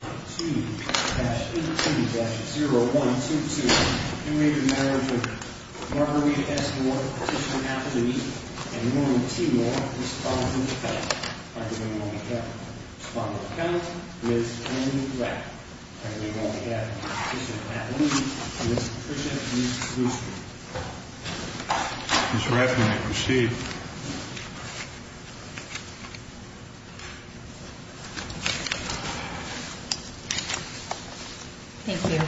Marguerite S. Moore Petitioner Appellee, and Norman T. Moore Respondent of the County. Respondent of the County, Ms. Annie Rapp. Respondent of the County, Mr. Pat Levy, and Ms. Patricia Lucey. Ms. Rapp, you may proceed. Thank you.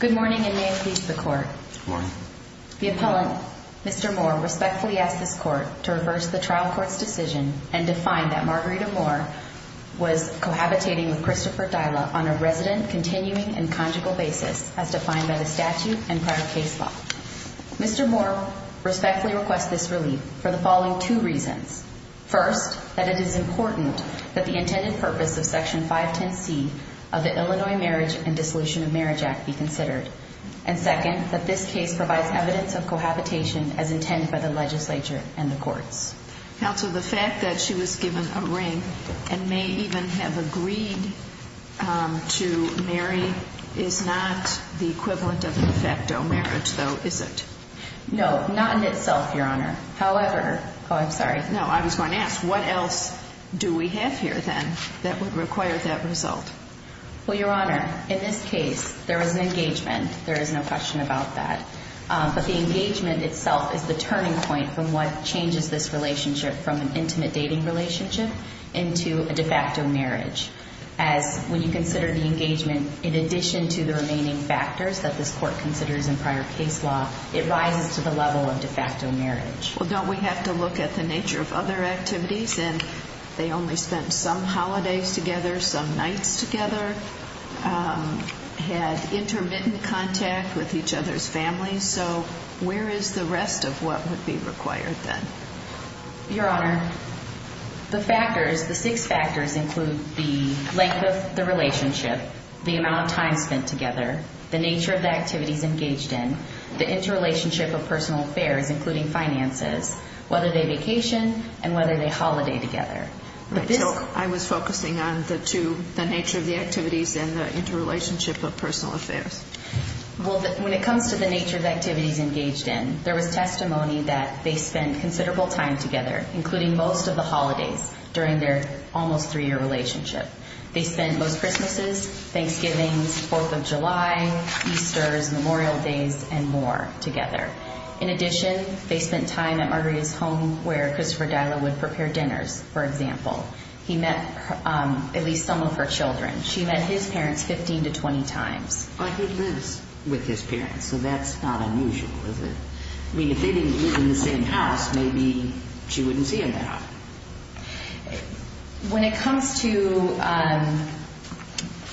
Good morning, and may it please the Court. Good morning. The Appellant, Mr. Moore, respectfully asks this Court to reverse the trial court's decision and define that Marguerite Moore was cohabitating with Christopher Dyla on a resident, continuing, and conjugal basis as defined by the statute and prior case law. Mr. Moore respectfully requests this relief for the following two reasons. First, that it is important that the intended purpose of Section 510C of the Illinois Marriage and Dissolution of Marriage Act be considered. And second, that this case provides evidence of cohabitation as intended by the legislature and the courts. Counsel, the fact that she was given a ring and may even have agreed to marry is not the equivalent of de facto marriage, though, is it? No, not in itself, Your Honor. However, oh, I'm sorry. No, I was going to ask, what else do we have here, then, that would require that result? Well, Your Honor, in this case, there was an engagement. There is no question about that. But the engagement itself is the turning point from what changes this relationship from an intimate dating relationship into a de facto marriage. As when you consider the engagement, in addition to the remaining factors that this court considers in prior case law, it rises to the level of de facto marriage. Well, don't we have to look at the nature of other activities? And they only spent some holidays together, some nights together, had intermittent contact with each other's families. So where is the rest of what would be required, then? Your Honor, the factors, the six factors include the length of the relationship, the amount of time spent together, the nature of the activities engaged in, the interrelationship of personal affairs, including finances, whether they vacation and whether they holiday together. So I was focusing on the two, the nature of the activities and the interrelationship of personal affairs. Well, when it comes to the nature of activities engaged in, there was testimony that they spent considerable time together, including most of the holidays, during their almost three-year relationship. They spent most Christmases, Thanksgivings, Fourth of July, Easters, Memorial Days, and more together. In addition, they spent time at Margarita's home where Christopher Dyla would prepare dinners, for example. He met at least some of her children. She met his parents 15 to 20 times. But he lives with his parents, so that's not unusual, is it? I mean, if they didn't live in the same house, maybe she wouldn't see him that often. When it comes to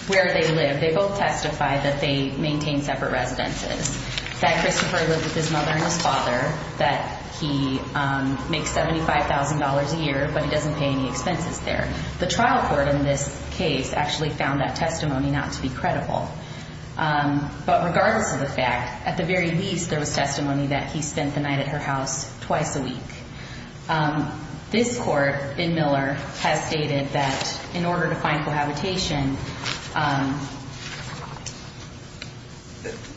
where they live, they both testify that they maintain separate residences, that Christopher lived with his mother and his father, that he makes $75,000 a year, but he doesn't pay any expenses there. The trial court in this case actually found that testimony not to be credible. But regardless of the fact, at the very least, there was testimony that he spent the night at her house twice a week. This court, in Miller, has stated that in order to find cohabitation,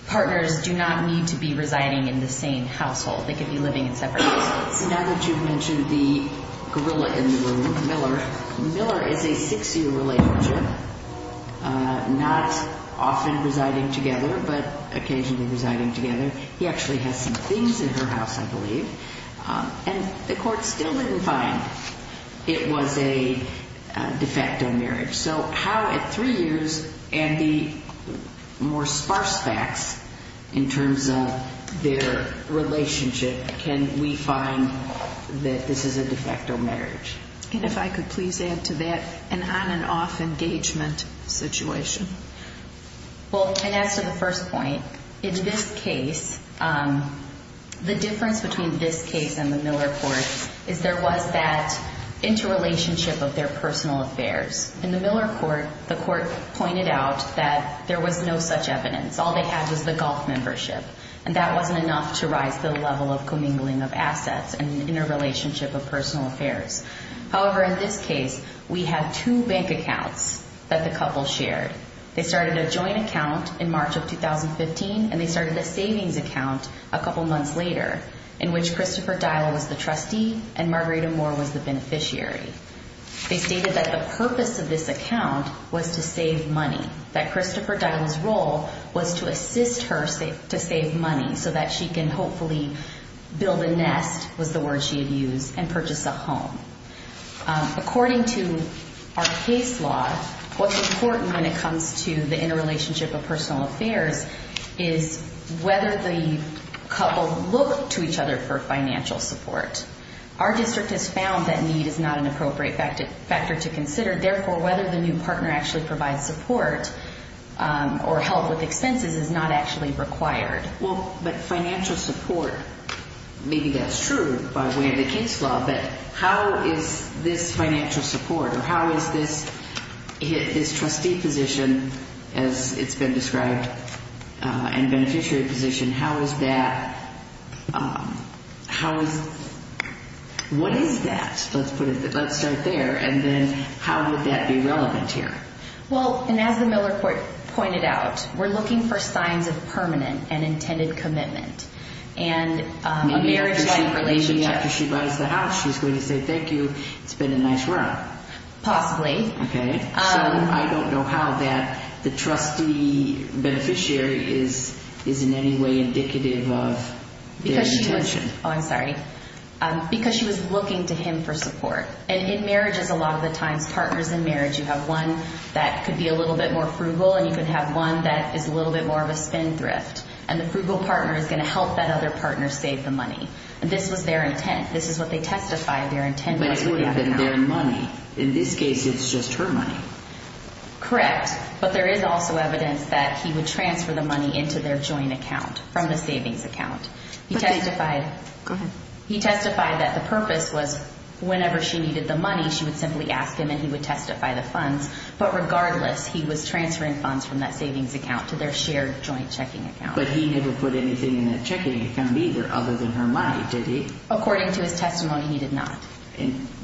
partners do not need to be residing in the same household. They could be living in separate households. Now that you've mentioned the gorilla in the room, Miller, Miller is a six-year relationship, not often residing together but occasionally residing together. And the court still didn't find it was a de facto marriage. So how, at three years, and the more sparse facts in terms of their relationship, can we find that this is a de facto marriage? And if I could please add to that, an on-and-off engagement situation. Well, and as to the first point, in this case, the difference between this case and the Miller court is there was that interrelationship of their personal affairs. In the Miller court, the court pointed out that there was no such evidence. All they had was the golf membership, and that wasn't enough to rise the level of commingling of assets and interrelationship of personal affairs. However, in this case, we have two bank accounts that the couple shared. They started a joint account in March of 2015, and they started a savings account a couple months later, in which Christopher Dial was the trustee and Margarita Moore was the beneficiary. They stated that the purpose of this account was to save money, that Christopher Dial's role was to assist her to save money, so that she can hopefully build a nest, was the word she had used, and purchase a home. According to our case law, what's important when it comes to the interrelationship of personal affairs is whether the couple look to each other for financial support. Our district has found that need is not an appropriate factor to consider. Therefore, whether the new partner actually provides support or help with expenses is not actually required. Well, but financial support, maybe that's true by way of the case law, but how is this financial support, or how is this trustee position, as it's been described, and beneficiary position, how is that, how is, what is that? Let's put it, let's start there, and then how would that be relevant here? Well, and as the Miller Court pointed out, we're looking for signs of permanent and intended commitment, and a marriage-like relationship. Maybe after she buys the house, she's going to say, thank you, it's been a nice run. Possibly. Okay. So I don't know how that the trustee beneficiary is in any way indicative of their intention. Oh, I'm sorry. Because she was looking to him for support. And in marriages, a lot of the times, partners in marriage, you have one that could be a little bit more frugal, and you could have one that is a little bit more of a spin thrift. And the frugal partner is going to help that other partner save the money. And this was their intent. This is what they testified their intent was. But it would have been their money. In this case, it's just her money. Correct. But there is also evidence that he would transfer the money into their joint account from the savings account. He testified. Go ahead. He testified that the purpose was whenever she needed the money, she would simply ask him, and he would testify the funds. But regardless, he was transferring funds from that savings account to their shared joint checking account. But he never put anything in that checking account either other than her money, did he? According to his testimony, he did not.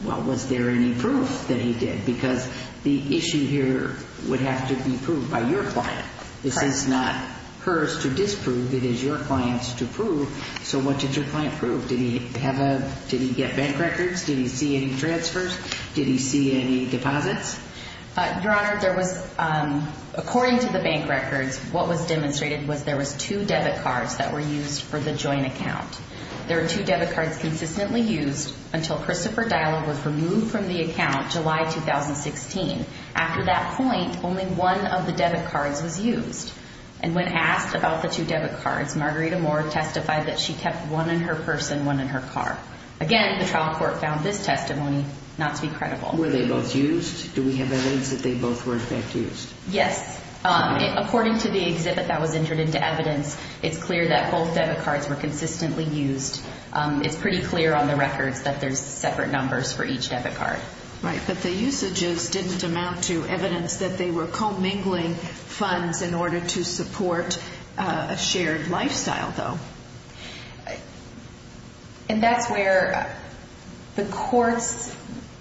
Well, was there any proof that he did? Because the issue here would have to be proved by your client. It is your client's to prove. So what did your client prove? Did he get bank records? Did he see any transfers? Did he see any deposits? Your Honor, according to the bank records, what was demonstrated was there was two debit cards that were used for the joint account. There were two debit cards consistently used until Christopher Dyla was removed from the account July 2016. After that point, only one of the debit cards was used. And when asked about the two debit cards, Margarita Moore testified that she kept one in her purse and one in her car. Again, the trial court found this testimony not to be credible. Were they both used? Do we have evidence that they both were in fact used? Yes. According to the exhibit that was entered into evidence, it's clear that both debit cards were consistently used. It's pretty clear on the records that there's separate numbers for each debit card. Right, but the usages didn't amount to evidence that they were commingling funds in order to support a shared lifestyle, though. And that's where the courts,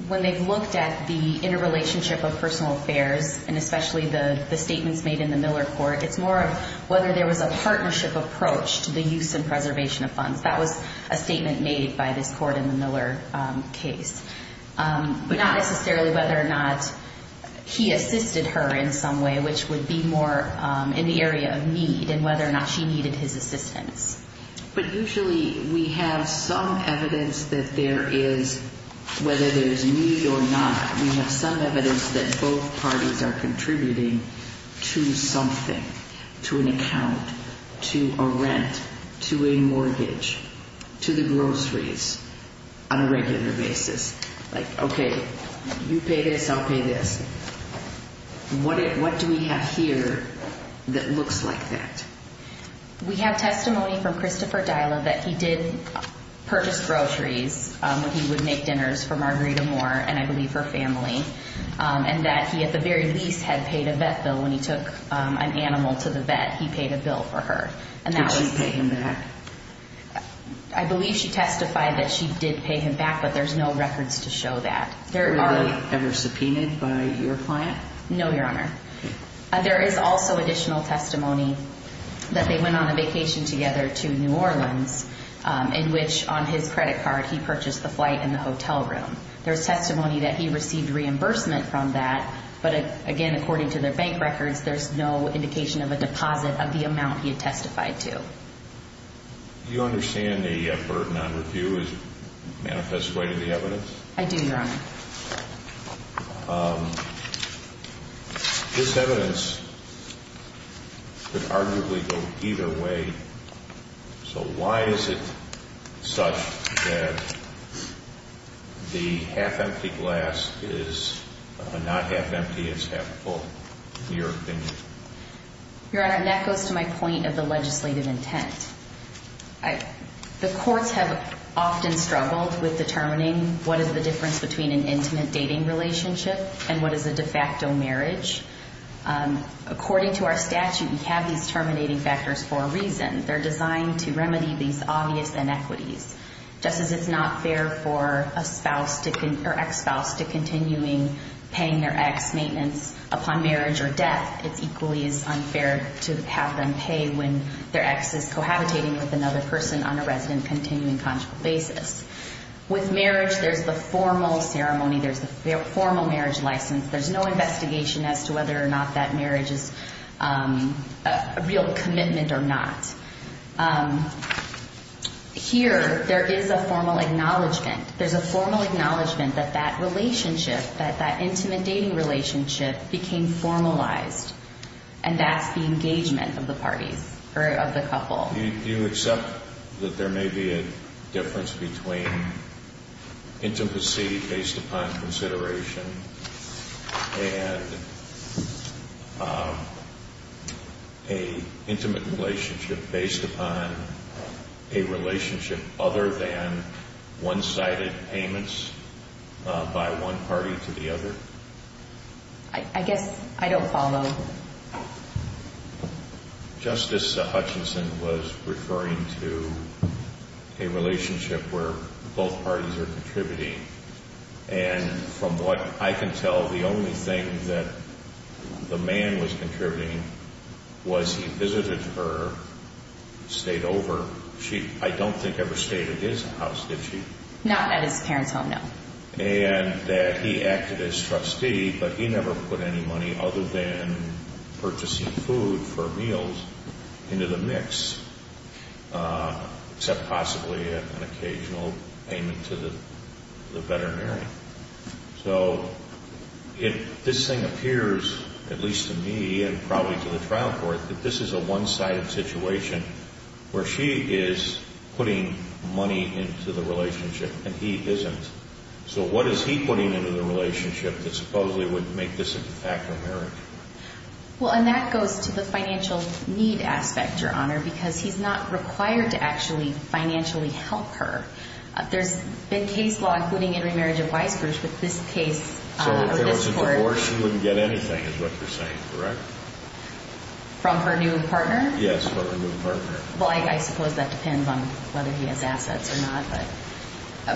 when they've looked at the interrelationship of personal affairs, and especially the statements made in the Miller court, it's more of whether there was a partnership approach to the use and preservation of funds. That was a statement made by this court in the Miller case. But not necessarily whether or not he assisted her in some way, which would be more in the area of need and whether or not she needed his assistance. But usually we have some evidence that there is, whether there's need or not, we have some evidence that both parties are contributing to something, to an account, to a rent, to a mortgage, to the groceries on a regular basis. Like, okay, you pay this, I'll pay this. What do we have here that looks like that? We have testimony from Christopher Dyla that he did purchase groceries when he would make dinners for Margarita Moore and I believe her family, and that he at the very least had paid a vet bill when he took an animal to the vet. He paid a bill for her. Did she pay him back? I believe she testified that she did pay him back, but there's no records to show that. Were they ever subpoenaed by your client? No, Your Honor. There is also additional testimony that they went on a vacation together to New Orleans, in which on his credit card he purchased the flight and the hotel room. There's testimony that he received reimbursement from that, but again, according to their bank records, there's no indication of a deposit of the amount he had testified to. Do you understand the burden on review as a manifest way to the evidence? I do, Your Honor. This evidence could arguably go either way, so why is it such that the half-empty glass is not half-empty, it's half-full, in your opinion? Your Honor, that goes to my point of the legislative intent. The courts have often struggled with determining what is the difference between an intimate dating relationship and what is a de facto marriage. According to our statute, we have these terminating factors for a reason. They're designed to remedy these obvious inequities. Just as it's not fair for an ex-spouse to continue paying their ex maintenance upon marriage or death, it equally is unfair to have them pay when their ex is cohabitating with another person on a resident-continuing conjugal basis. With marriage, there's the formal ceremony, there's the formal marriage license. There's no investigation as to whether or not that marriage is a real commitment or not. Here, there is a formal acknowledgment. There's a formal acknowledgment that that relationship, that that intimate dating relationship, became formalized, and that's the engagement of the parties, or of the couple. Do you accept that there may be a difference between intimacy based upon consideration and an intimate relationship based upon a relationship other than one-sided payments by one party to the other? I guess I don't follow. Justice Hutchinson was referring to a relationship where both parties are contributing, and from what I can tell, the only thing that the man was contributing was he visited her, stayed over. She, I don't think, ever stayed at his house, did she? Not at his parents' home, no. And that he acted as trustee, but he never put any money other than purchasing food for meals into the mix, except possibly an occasional payment to the veterinary. So if this thing appears, at least to me and probably to the trial court, that this is a one-sided situation where she is putting money into the relationship and he isn't. So what is he putting into the relationship that supposedly would make this a de facto marriage? Well, and that goes to the financial need aspect, Your Honor, because he's not required to actually financially help her. There's been case law, including in remarriage advice, Bruce, with this case. So if there was a divorce, she wouldn't get anything is what you're saying, correct? From her new partner? Yes, from her new partner. Well, I suppose that depends on whether he has assets or not,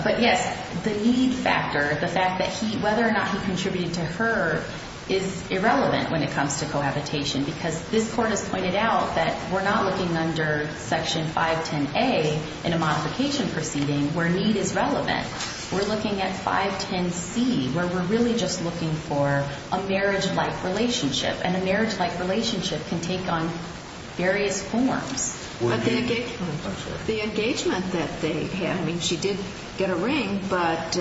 but yes, the need factor, the fact that whether or not he contributed to her is irrelevant when it comes to cohabitation because this court has pointed out that we're not looking under Section 510A in a modification proceeding where need is relevant. We're looking at 510C where we're really just looking for a marriage-like relationship, and a marriage-like relationship can take on various forms. But the engagement that they had, I mean, she did get a ring, but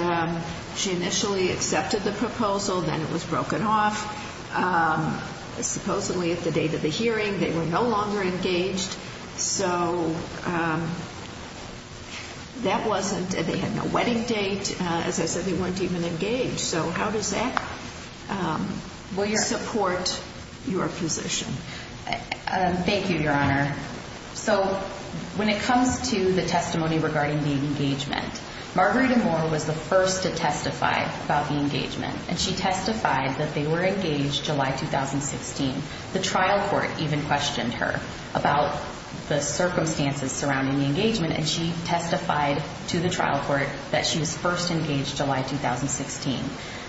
she initially accepted the proposal, then it was broken off. Supposedly at the date of the hearing they were no longer engaged, so that wasn't, they had no wedding date. As I said, they weren't even engaged. So how does that support your position? Thank you, Your Honor. So when it comes to the testimony regarding the engagement, Margarita Moore was the first to testify about the engagement, and she testified that they were engaged July 2016. The trial court even questioned her about the circumstances surrounding the engagement, and she testified to the trial court that she was first engaged July 2016.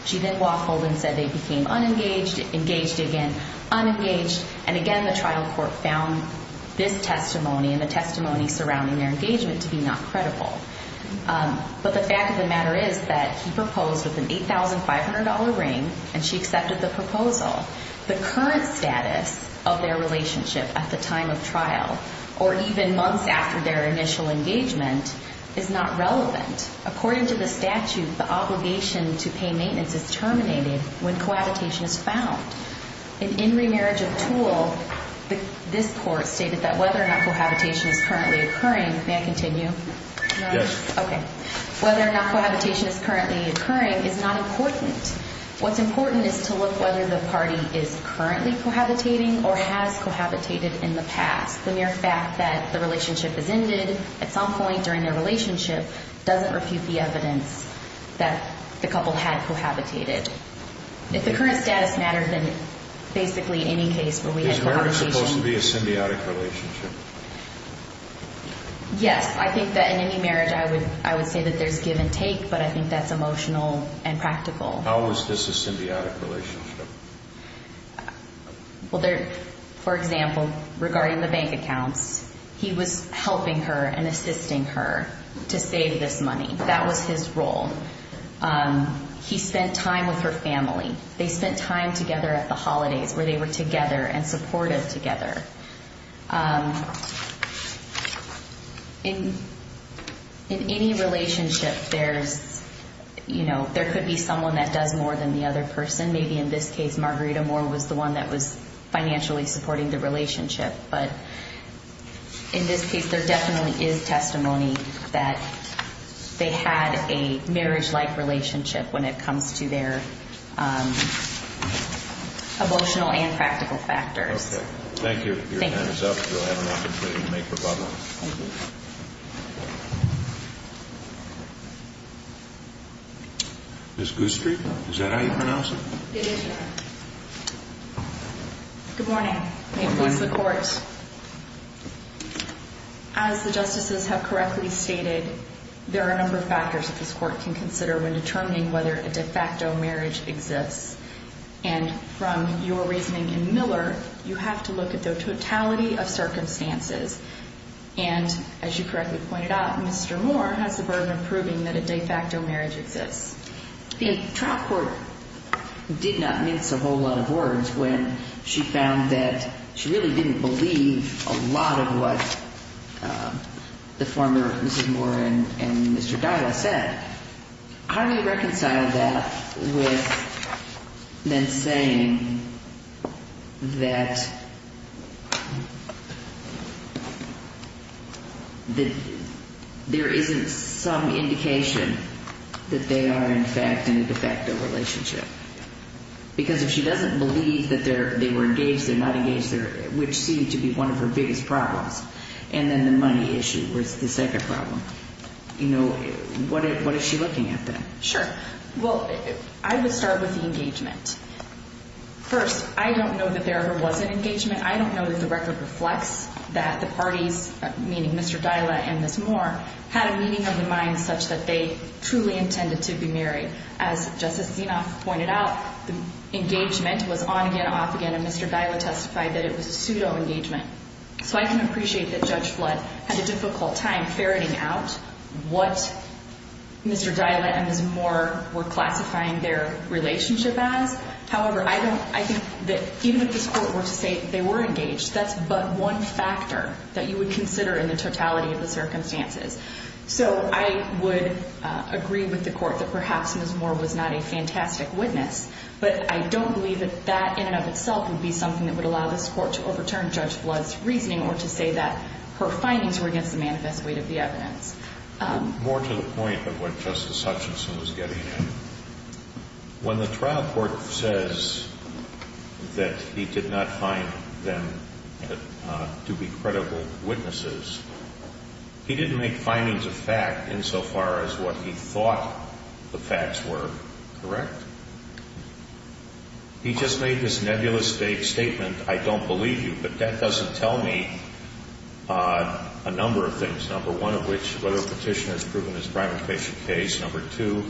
She then waffled and said they became unengaged, engaged again, unengaged, and again the trial court found this testimony and the testimony surrounding their engagement to be not credible. But the fact of the matter is that he proposed with an $8,500 ring, and she accepted the proposal. The current status of their relationship at the time of trial or even months after their initial engagement is not relevant. According to the statute, the obligation to pay maintenance is terminated when cohabitation is found. In In Remarriage of Tool, this court stated that whether or not cohabitation is currently occurring, may I continue? Yes. Okay. Whether or not cohabitation is currently occurring is not important. What's important is to look whether the party is currently cohabitating or has cohabitated in the past. The mere fact that the relationship has ended at some point during their relationship doesn't refute the evidence that the couple had cohabitated. If the current status matters, then basically any case where we had cohabitation Is marriage supposed to be a symbiotic relationship? Yes. I think that in any marriage I would say that there's give and take, but I think that's emotional and practical. How was this a symbiotic relationship? For example, regarding the bank accounts, he was helping her and assisting her to save this money. That was his role. He spent time with her family. They spent time together at the holidays where they were together and supportive together. In any relationship, there could be someone that does more than the other person. Maybe in this case, Margarita Moore was the one that was financially supporting the relationship. But in this case, there definitely is testimony that they had a marriage-like relationship when it comes to their emotional and practical factors. Thank you. Your time is up. You'll have an opportunity to make rebuttals. Ms. Gustry, is that how you pronounce it? It is, Your Honor. Good morning. May it please the Court. Good morning. As the Justices have correctly stated, there are a number of factors that this Court can consider when determining whether a de facto marriage exists. And from your reasoning in Miller, you have to look at the totality of circumstances. And as you correctly pointed out, Mr. Moore has the burden of proving that a de facto marriage exists. The trial court did not mince a whole lot of words when she found that she really didn't believe a lot of what the former Mrs. Moore and Mr. Dyla said. How do you reconcile that with then saying that there isn't some indication that they are, in fact, in a de facto relationship? Because if she doesn't believe that they were engaged, they're not engaged, which seemed to be one of her biggest problems, and then the money issue was the second problem. What is she looking at then? Sure. Well, I would start with the engagement. First, I don't know that there ever was an engagement. I don't know that the record reflects that the parties, meaning Mr. Dyla and Mrs. Moore, had a meeting of the mind such that they truly intended to be married. As Justice Zinoff pointed out, the engagement was on again, off again, and Mr. Dyla testified that it was a pseudo engagement. So I can appreciate that Judge Flood had a difficult time ferreting out what Mr. Dyla and Mrs. Moore were classifying their relationship as. However, I think that even if this Court were to say they were engaged, that's but one factor that you would consider in the totality of the circumstances. So I would agree with the Court that perhaps Mrs. Moore was not a fantastic witness, but I don't believe that that in and of itself would be something that would allow this Court to overturn Judge Flood's reasoning or to say that her findings were against the manifest weight of the evidence. More to the point of what Justice Hutchinson was getting at, when the trial court says that he did not find them to be credible witnesses, he didn't make findings of fact insofar as what he thought the facts were correct. He just made this nebulous statement, I don't believe you, but that doesn't tell me a number of things, number one of which, whether a petitioner has proven his private patient case, number two,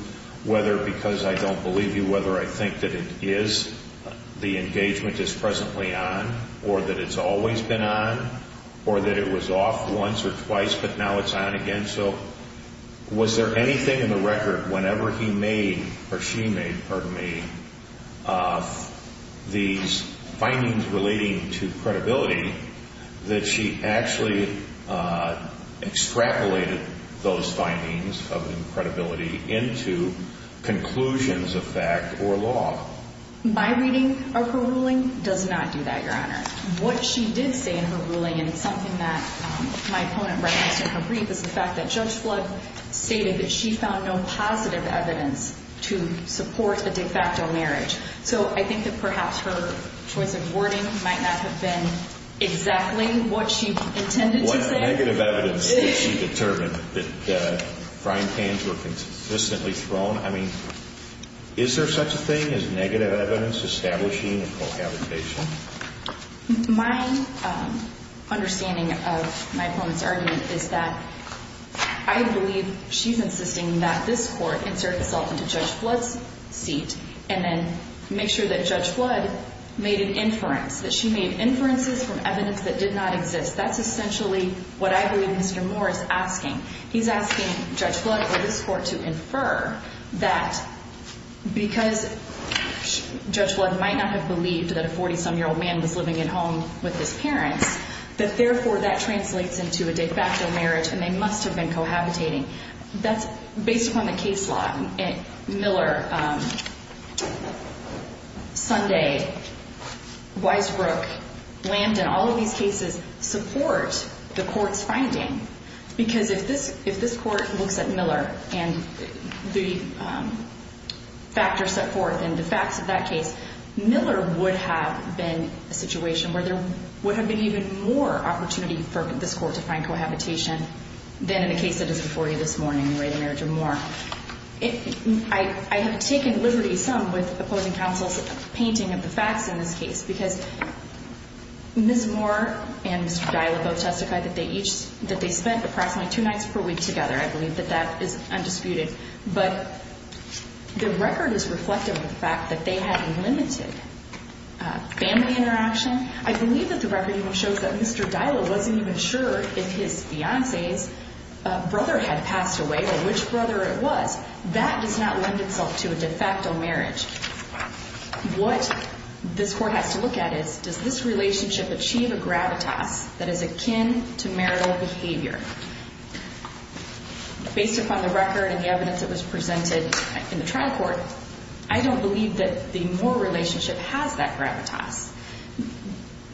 whether because I don't believe you, whether I think that it is the engagement is presently on or that it's always been on or that it was off once or twice but now it's on again. So was there anything in the record whenever he made or she made, pardon me, these findings relating to credibility that she actually extrapolated those findings of credibility into conclusions of fact or law? My reading of her ruling does not do that, Your Honor. What she did say in her ruling, and it's something that my opponent referenced in her brief, is the fact that Judge Flood stated that she found no positive evidence to support a de facto marriage. So I think that perhaps her choice of wording might not have been exactly what she intended to say. What negative evidence did she determine that frying pans were consistently thrown? I mean, is there such a thing as negative evidence establishing a cohabitation? My understanding of my opponent's argument is that I believe she's insisting that this court insert itself into Judge Flood's seat and then make sure that Judge Flood made an inference, that she made inferences from evidence that did not exist. That's essentially what I believe Mr. Moore is asking. He's asking Judge Flood or this court to infer that because Judge Flood might not have believed that a 40-some-year-old man was living at home with his parents, that therefore that translates into a de facto marriage and they must have been cohabitating. That's based upon the case law. Miller, Sunday, Weisbrook, Landon, all of these cases support the court's finding because if this court looks at Miller and the factors set forth in the facts of that case, Miller would have been a situation where there would have been even more opportunity for this court to find cohabitation than in the case that is before you this morning in the way of the marriage of Moore. I have taken liberty some with opposing counsel's painting of the facts in this case because Ms. Moore and Mr. Dyla both testified that they spent approximately two nights per week together. I believe that that is undisputed. But the record is reflective of the fact that they had limited family interaction. I believe that the record even shows that Mr. Dyla wasn't even sure if his fiancee's brother had passed away or which brother it was. That does not lend itself to a de facto marriage. What this court has to look at is does this relationship achieve a gravitas that is akin to marital behavior? Based upon the record and the evidence that was presented in the trial court, I don't believe that the Moore relationship has that gravitas.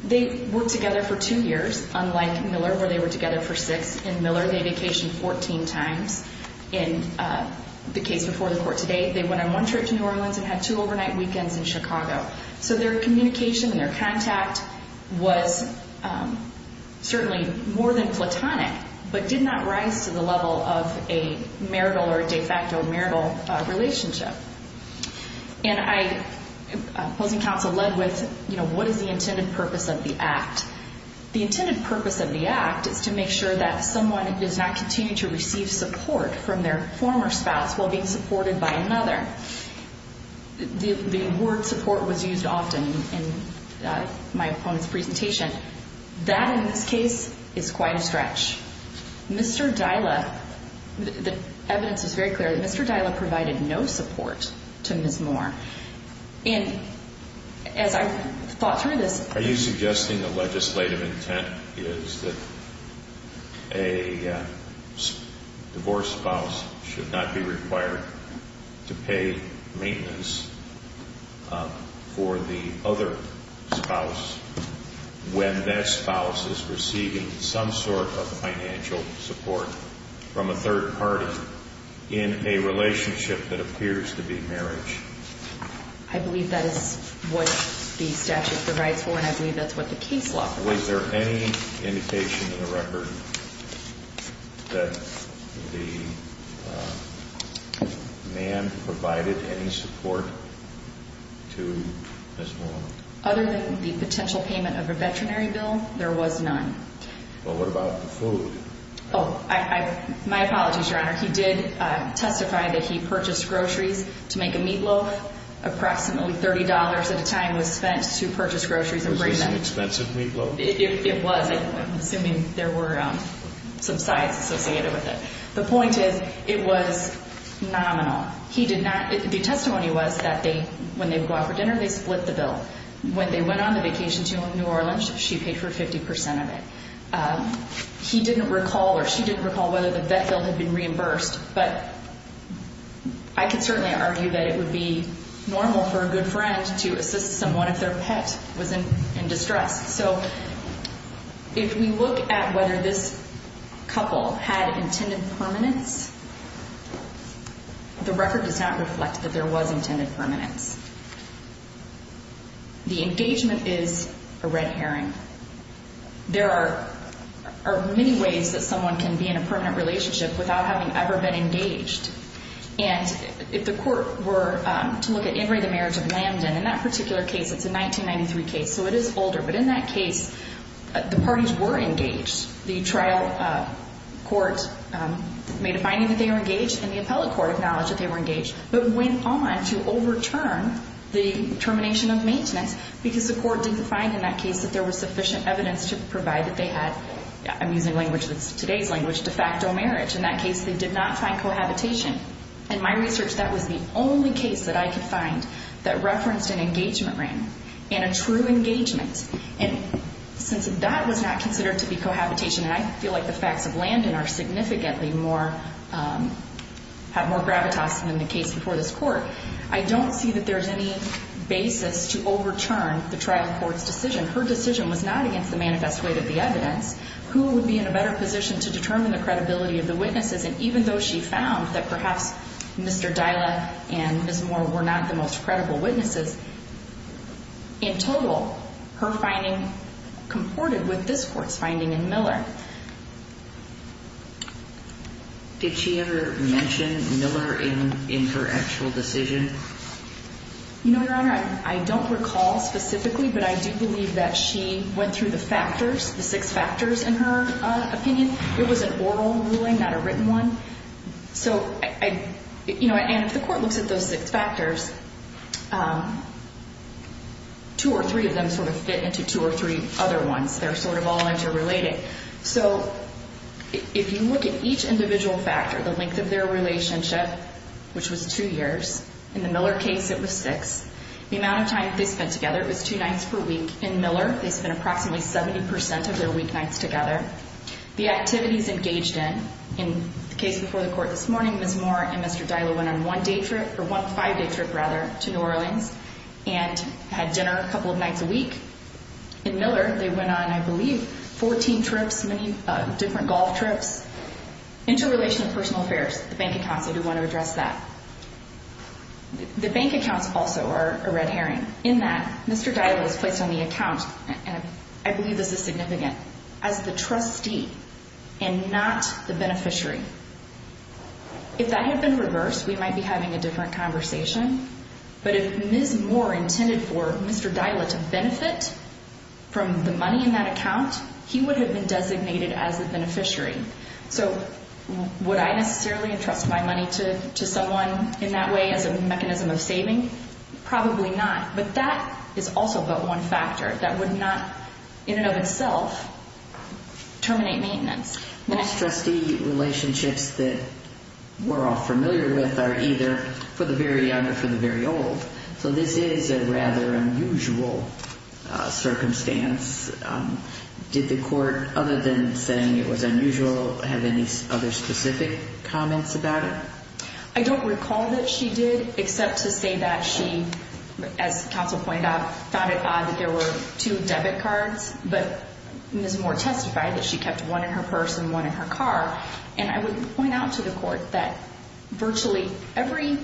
They worked together for two years, unlike Miller where they were together for six. In Miller, they vacationed 14 times. In the case before the court today, they went on one trip to New Orleans and had two overnight weekends in Chicago. Their communication and their contact was certainly more than platonic but did not rise to the level of a marital or de facto marital relationship. Opposing counsel led with what is the intended purpose of the act. The intended purpose of the act is to make sure that someone does not continue to receive support from their former spouse while being supported by another. The word support was used often in my opponent's presentation. That, in this case, is quite a stretch. Mr. Dyla, the evidence is very clear that Mr. Dyla provided no support to Ms. Moore. And as I thought through this... Are you suggesting the legislative intent is that a divorced spouse should not be required to pay maintenance for the other spouse when that spouse is receiving some sort of financial support from a third party in a relationship that appears to be marriage? I believe that is what the statute provides for and I believe that is what the case law provides for. Was there any indication in the record that the man provided any support to Ms. Moore? Other than the potential payment of a veterinary bill, there was none. Well, what about the food? Oh, my apologies, Your Honor. He did testify that he purchased groceries to make a meatloaf. Approximately $30 at a time was spent to purchase groceries and bring them. Was this an expensive meatloaf? It was. I'm assuming there were some sides associated with it. The point is it was nominal. The testimony was that when they would go out for dinner, they split the bill. When they went on the vacation to New Orleans, she paid for 50% of it. He didn't recall or she didn't recall whether the vet bill had been reimbursed, but I can certainly argue that it would be normal for a good friend to assist someone if their pet was in distress. So if we look at whether this couple had intended permanence, the record does not reflect that there was intended permanence. The engagement is a red herring. There are many ways that someone can be in a permanent relationship without having ever been engaged. And if the court were to look at In re the marriage of Lambden, in that particular case, it's a 1993 case, so it is older, but in that case, the parties were engaged. The trial court made a finding that they were engaged, and the appellate court acknowledged that they were engaged, but went on to overturn the termination of maintenance because the court didn't find in that case that there was sufficient evidence to provide that they had, I'm using language that's today's language, de facto marriage. In that case, they did not find cohabitation. In my research, that was the only case that I could find that referenced an engagement ring. And a true engagement. And since that was not considered to be cohabitation, and I feel like the facts of Lambden are significantly more, have more gravitas than the case before this court, I don't see that there's any basis to overturn the trial court's decision. Her decision was not against the manifest weight of the evidence. Who would be in a better position to determine the credibility of the witnesses? And even though she found that perhaps Mr. Dyla and Ms. Moore were not the most credible witnesses, in total, her finding comported with this court's finding in Miller. Did she ever mention Miller in her actual decision? No, Your Honor. I don't recall specifically, but I do believe that she went through the factors, the six factors in her opinion. It was an oral ruling, not a written one. So, you know, and if the court looks at those six factors, two or three of them sort of fit into two or three other ones. They're sort of all interrelated. So, if you look at each individual factor, the length of their relationship, which was two years. In the Miller case, it was six. The amount of time they spent together was two nights per week. In Miller, they spent approximately 70% of their weeknights together. The activities engaged in, in the case before the court this morning, Ms. Moore and Mr. Dyla went on one day trip, or one five-day trip, rather, to New Orleans and had dinner a couple of nights a week. In Miller, they went on, I believe, 14 trips, many different golf trips. Interrelation of personal affairs, the bank accounts, I do want to address that. The bank accounts also are a red herring in that Mr. Dyla was placed on the account, and I believe this is significant. As the trustee and not the beneficiary. If that had been reversed, we might be having a different conversation, but if Ms. Moore intended for Mr. Dyla to benefit from the money in that account, he would have been designated as the beneficiary. So, would I necessarily entrust my money to someone in that way as a mechanism of saving? Probably not. But that is also but one factor that would not, in and of itself, terminate maintenance. Most trustee relationships that we're all familiar with are either for the very young or for the very old, so this is a rather unusual circumstance. Did the court, other than saying it was unusual, have any other specific comments about it? I don't recall that she did, except to say that she, as counsel pointed out, found it odd that there were two debit cards, but Ms. Moore testified that she kept one in her purse and one in her car, and I would point out to the court that virtually every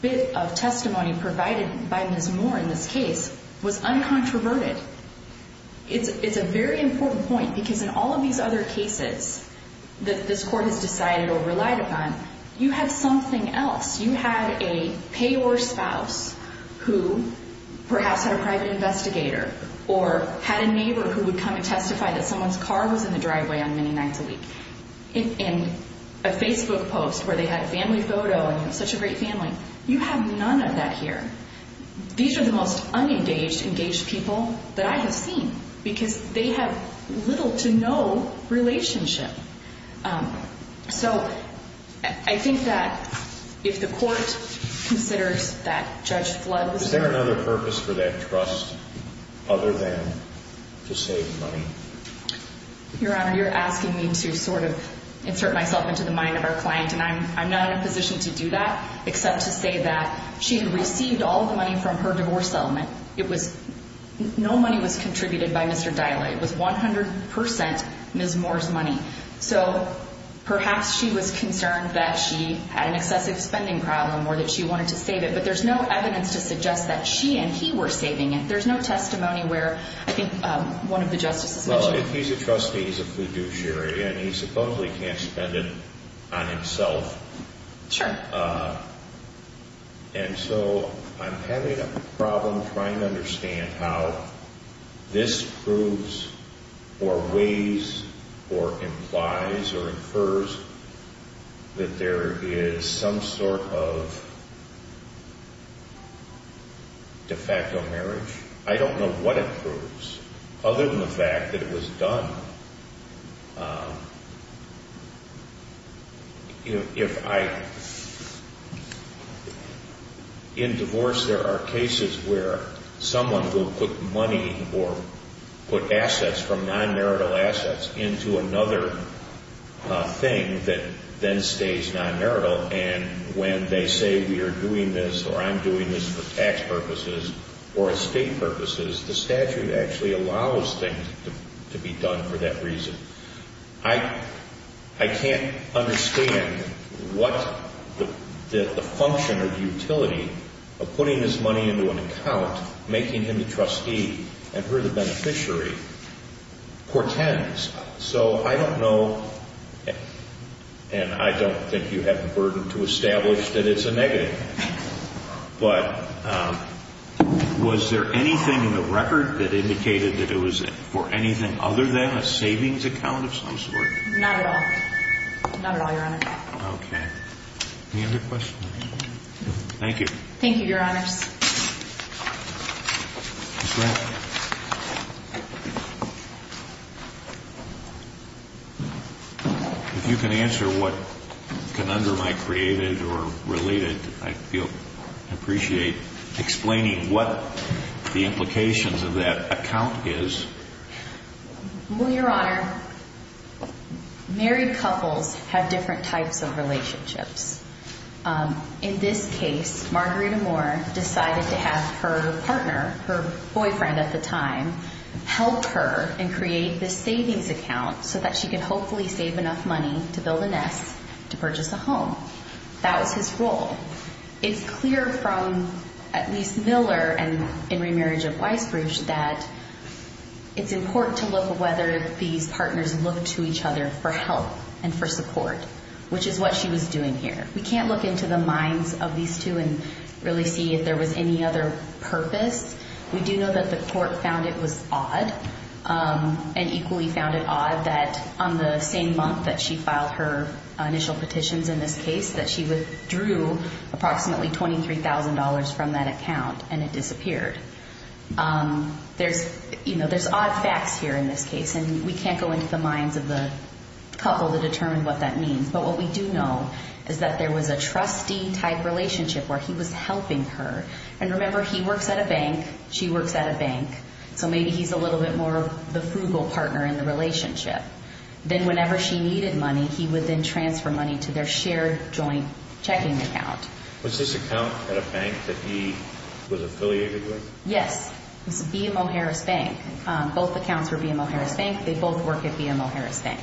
bit of testimony provided by Ms. Moore in this case was uncontroverted. It's a very important point because in all of these other cases that this court has decided or relied upon, you had something else. You had a payor spouse who perhaps had a private investigator or had a neighbor who would come and testify that someone's car was in the driveway on many nights a week, and a Facebook post where they had a family photo and such a great family. You have none of that here. These are the most unengaged, engaged people that I have seen because they have little to no relationship. So I think that if the court considers that Judge Flood was there. Is there another purpose for that trust other than to save money? Your Honor, you're asking me to sort of insert myself into the mind of our client, and I'm not in a position to do that except to say that she had received all of the money from her divorce settlement. No money was contributed by Mr. Dila. It was 100% Ms. Moore's money. So perhaps she was concerned that she had an excessive spending problem or that she wanted to save it, but there's no evidence to suggest that she and he were saving it. There's no testimony where I think one of the justices mentioned it. Well, if he's a trustee, he's a fiduciary, and he supposedly can't spend it on himself. Sure. And so I'm having a problem trying to understand how this proves or weighs or implies or infers that there is some sort of de facto marriage. I don't know what it proves other than the fact that it was done. If I – in divorce there are cases where someone will put money or put assets from non-marital assets into another thing that then stays non-marital, and when they say we are doing this or I'm doing this for tax purposes or estate purposes, the statute actually allows things to be done for that reason. I can't understand what the function or the utility of putting this money into an account, making him the trustee and her the beneficiary, portends. So I don't know, and I don't think you have the burden to establish that it's a negative. But was there anything in the record that indicated that it was for anything other than a savings account of some sort? Not at all. Not at all, Your Honor. Okay. Any other questions? Thank you. Thank you, Your Honors. Ms. Rapp. If you can answer what conundrum I created or related, I appreciate explaining what the implications of that account is. Well, Your Honor, married couples have different types of relationships. In this case, Margarita Moore decided to have her partner, her boyfriend at the time, help her and create this savings account so that she could hopefully save enough money to build a nest to purchase a home. That was his role. It's clear from at least Miller and in Remarriage of Weisbruch that it's important to look at whether these partners look to each other for help and for support, which is what she was doing here. We can't look into the minds of these two and really see if there was any other purpose. We do know that the court found it was odd and equally found it odd that on the same month that she filed her initial petitions in this case that she withdrew approximately $23,000 from that account and it disappeared. There's odd facts here in this case, and we can't go into the minds of the couple to determine what that means. But what we do know is that there was a trustee-type relationship where he was helping her. And remember, he works at a bank, she works at a bank, so maybe he's a little bit more the frugal partner in the relationship. Then whenever she needed money, he would then transfer money to their shared joint checking account. Was this account at a bank that he was affiliated with? Yes, it was BMO Harris Bank. Both accounts were BMO Harris Bank. They both work at BMO Harris Bank.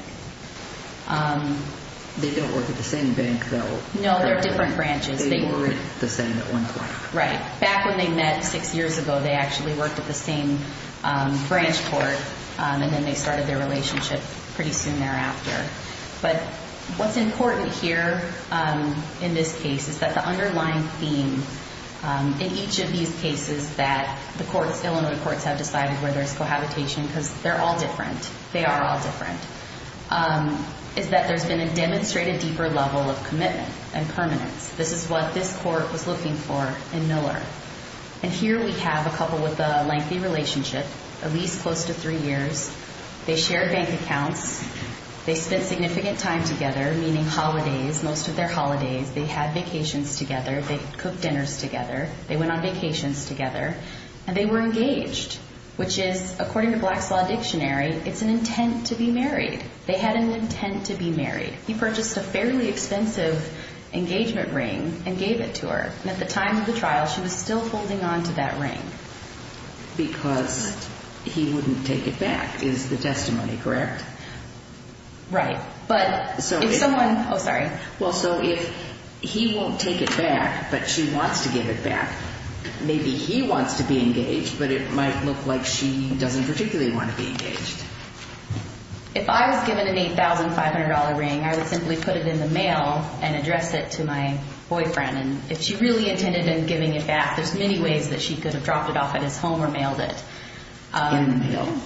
They don't work at the same bank, though. No, they're different branches. They work the same at one point. Right. Back when they met six years ago, they actually worked at the same branch court, and then they started their relationship pretty soon thereafter. But what's important here in this case is that the underlying theme in each of these cases that the Illinois courts have decided where there's cohabitation, because they're all different, they are all different, is that there's been a demonstrated deeper level of commitment and permanence. This is what this court was looking for in Miller. And here we have a couple with a lengthy relationship, at least close to three years. They shared bank accounts. They spent significant time together, meaning holidays, most of their holidays. They had vacations together. They cooked dinners together. They went on vacations together. And they were engaged, which is, according to Black's Law Dictionary, it's an intent to be married. They had an intent to be married. He purchased a fairly expensive engagement ring and gave it to her. And at the time of the trial, she was still holding on to that ring. Because he wouldn't take it back is the testimony, correct? Right. But if someone – oh, sorry. Well, so if he won't take it back but she wants to give it back, maybe he wants to be engaged, but it might look like she doesn't particularly want to be engaged. If I was given an $8,500 ring, I would simply put it in the mail and address it to my boyfriend. And if she really intended on giving it back, there's many ways that she could have dropped it off at his home or mailed it. In the mail?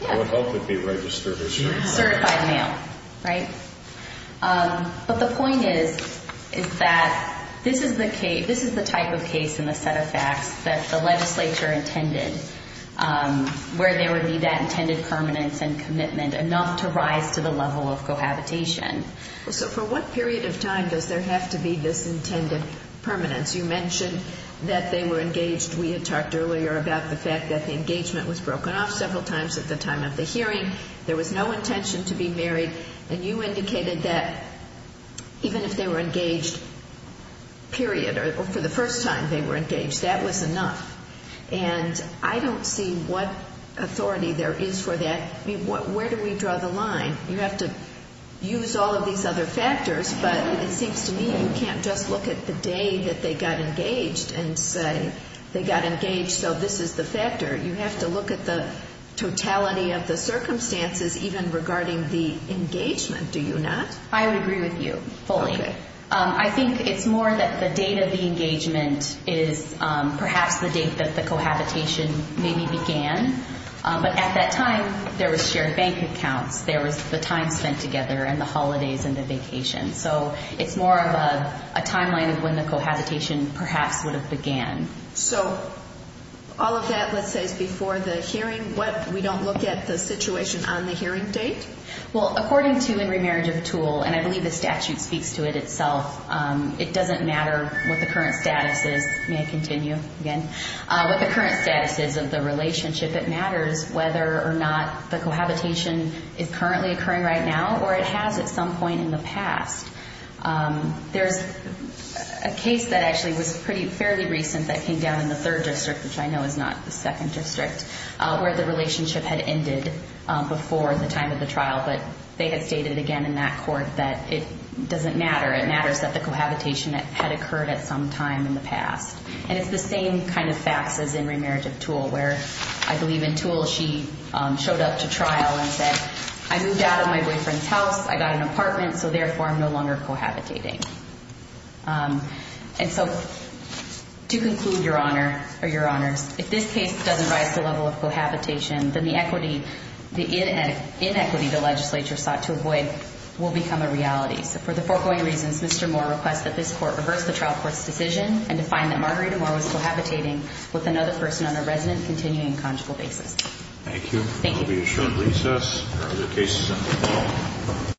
Yeah. It would help if he registered his certificate. Certified mail, right? But the point is, is that this is the type of case in the set of facts that the legislature intended, where there would be that intended permanence and commitment enough to rise to the level of cohabitation. So for what period of time does there have to be this intended permanence? You mentioned that they were engaged. We had talked earlier about the fact that the engagement was broken off several times at the time of the hearing. There was no intention to be married. And you indicated that even if they were engaged, period, or for the first time they were engaged, that was enough. And I don't see what authority there is for that. I mean, where do we draw the line? You have to use all of these other factors, but it seems to me you can't just look at the day that they got engaged and say they got engaged, so this is the factor. You have to look at the totality of the circumstances, even regarding the engagement, do you not? I would agree with you fully. I think it's more that the date of the engagement is perhaps the date that the cohabitation maybe began. But at that time, there was shared bank accounts. There was the time spent together and the holidays and the vacations. So it's more of a timeline of when the cohabitation perhaps would have began. So all of that, let's say, is before the hearing. We don't look at the situation on the hearing date? Well, according to In Remarriage of a Tool, and I believe the statute speaks to it itself, it doesn't matter what the current status is of the relationship. It matters whether or not the cohabitation is currently occurring right now or it has at some point in the past. There's a case that actually was fairly recent that came down in the third district, which I know is not the second district, where the relationship had ended before the time of the trial. But they had stated again in that court that it doesn't matter. It matters that the cohabitation had occurred at some time in the past. And it's the same kind of facts as In Remarriage of Tool, where I believe in Tool she showed up to trial and said, I moved out of my boyfriend's house. I got an apartment, so therefore I'm no longer cohabitating. And so to conclude, Your Honor, or Your Honors, if this case doesn't rise to the level of cohabitation, then the inequity the legislature sought to avoid will become a reality. So for the foregoing reasons, Mr. Moore requests that this court reverse the trial court's decision and to find that Marguerita Moore was cohabitating with another person on a resident-continuing conjugal basis. Thank you. Thank you. I'll be assuring recess. Are there cases under the law?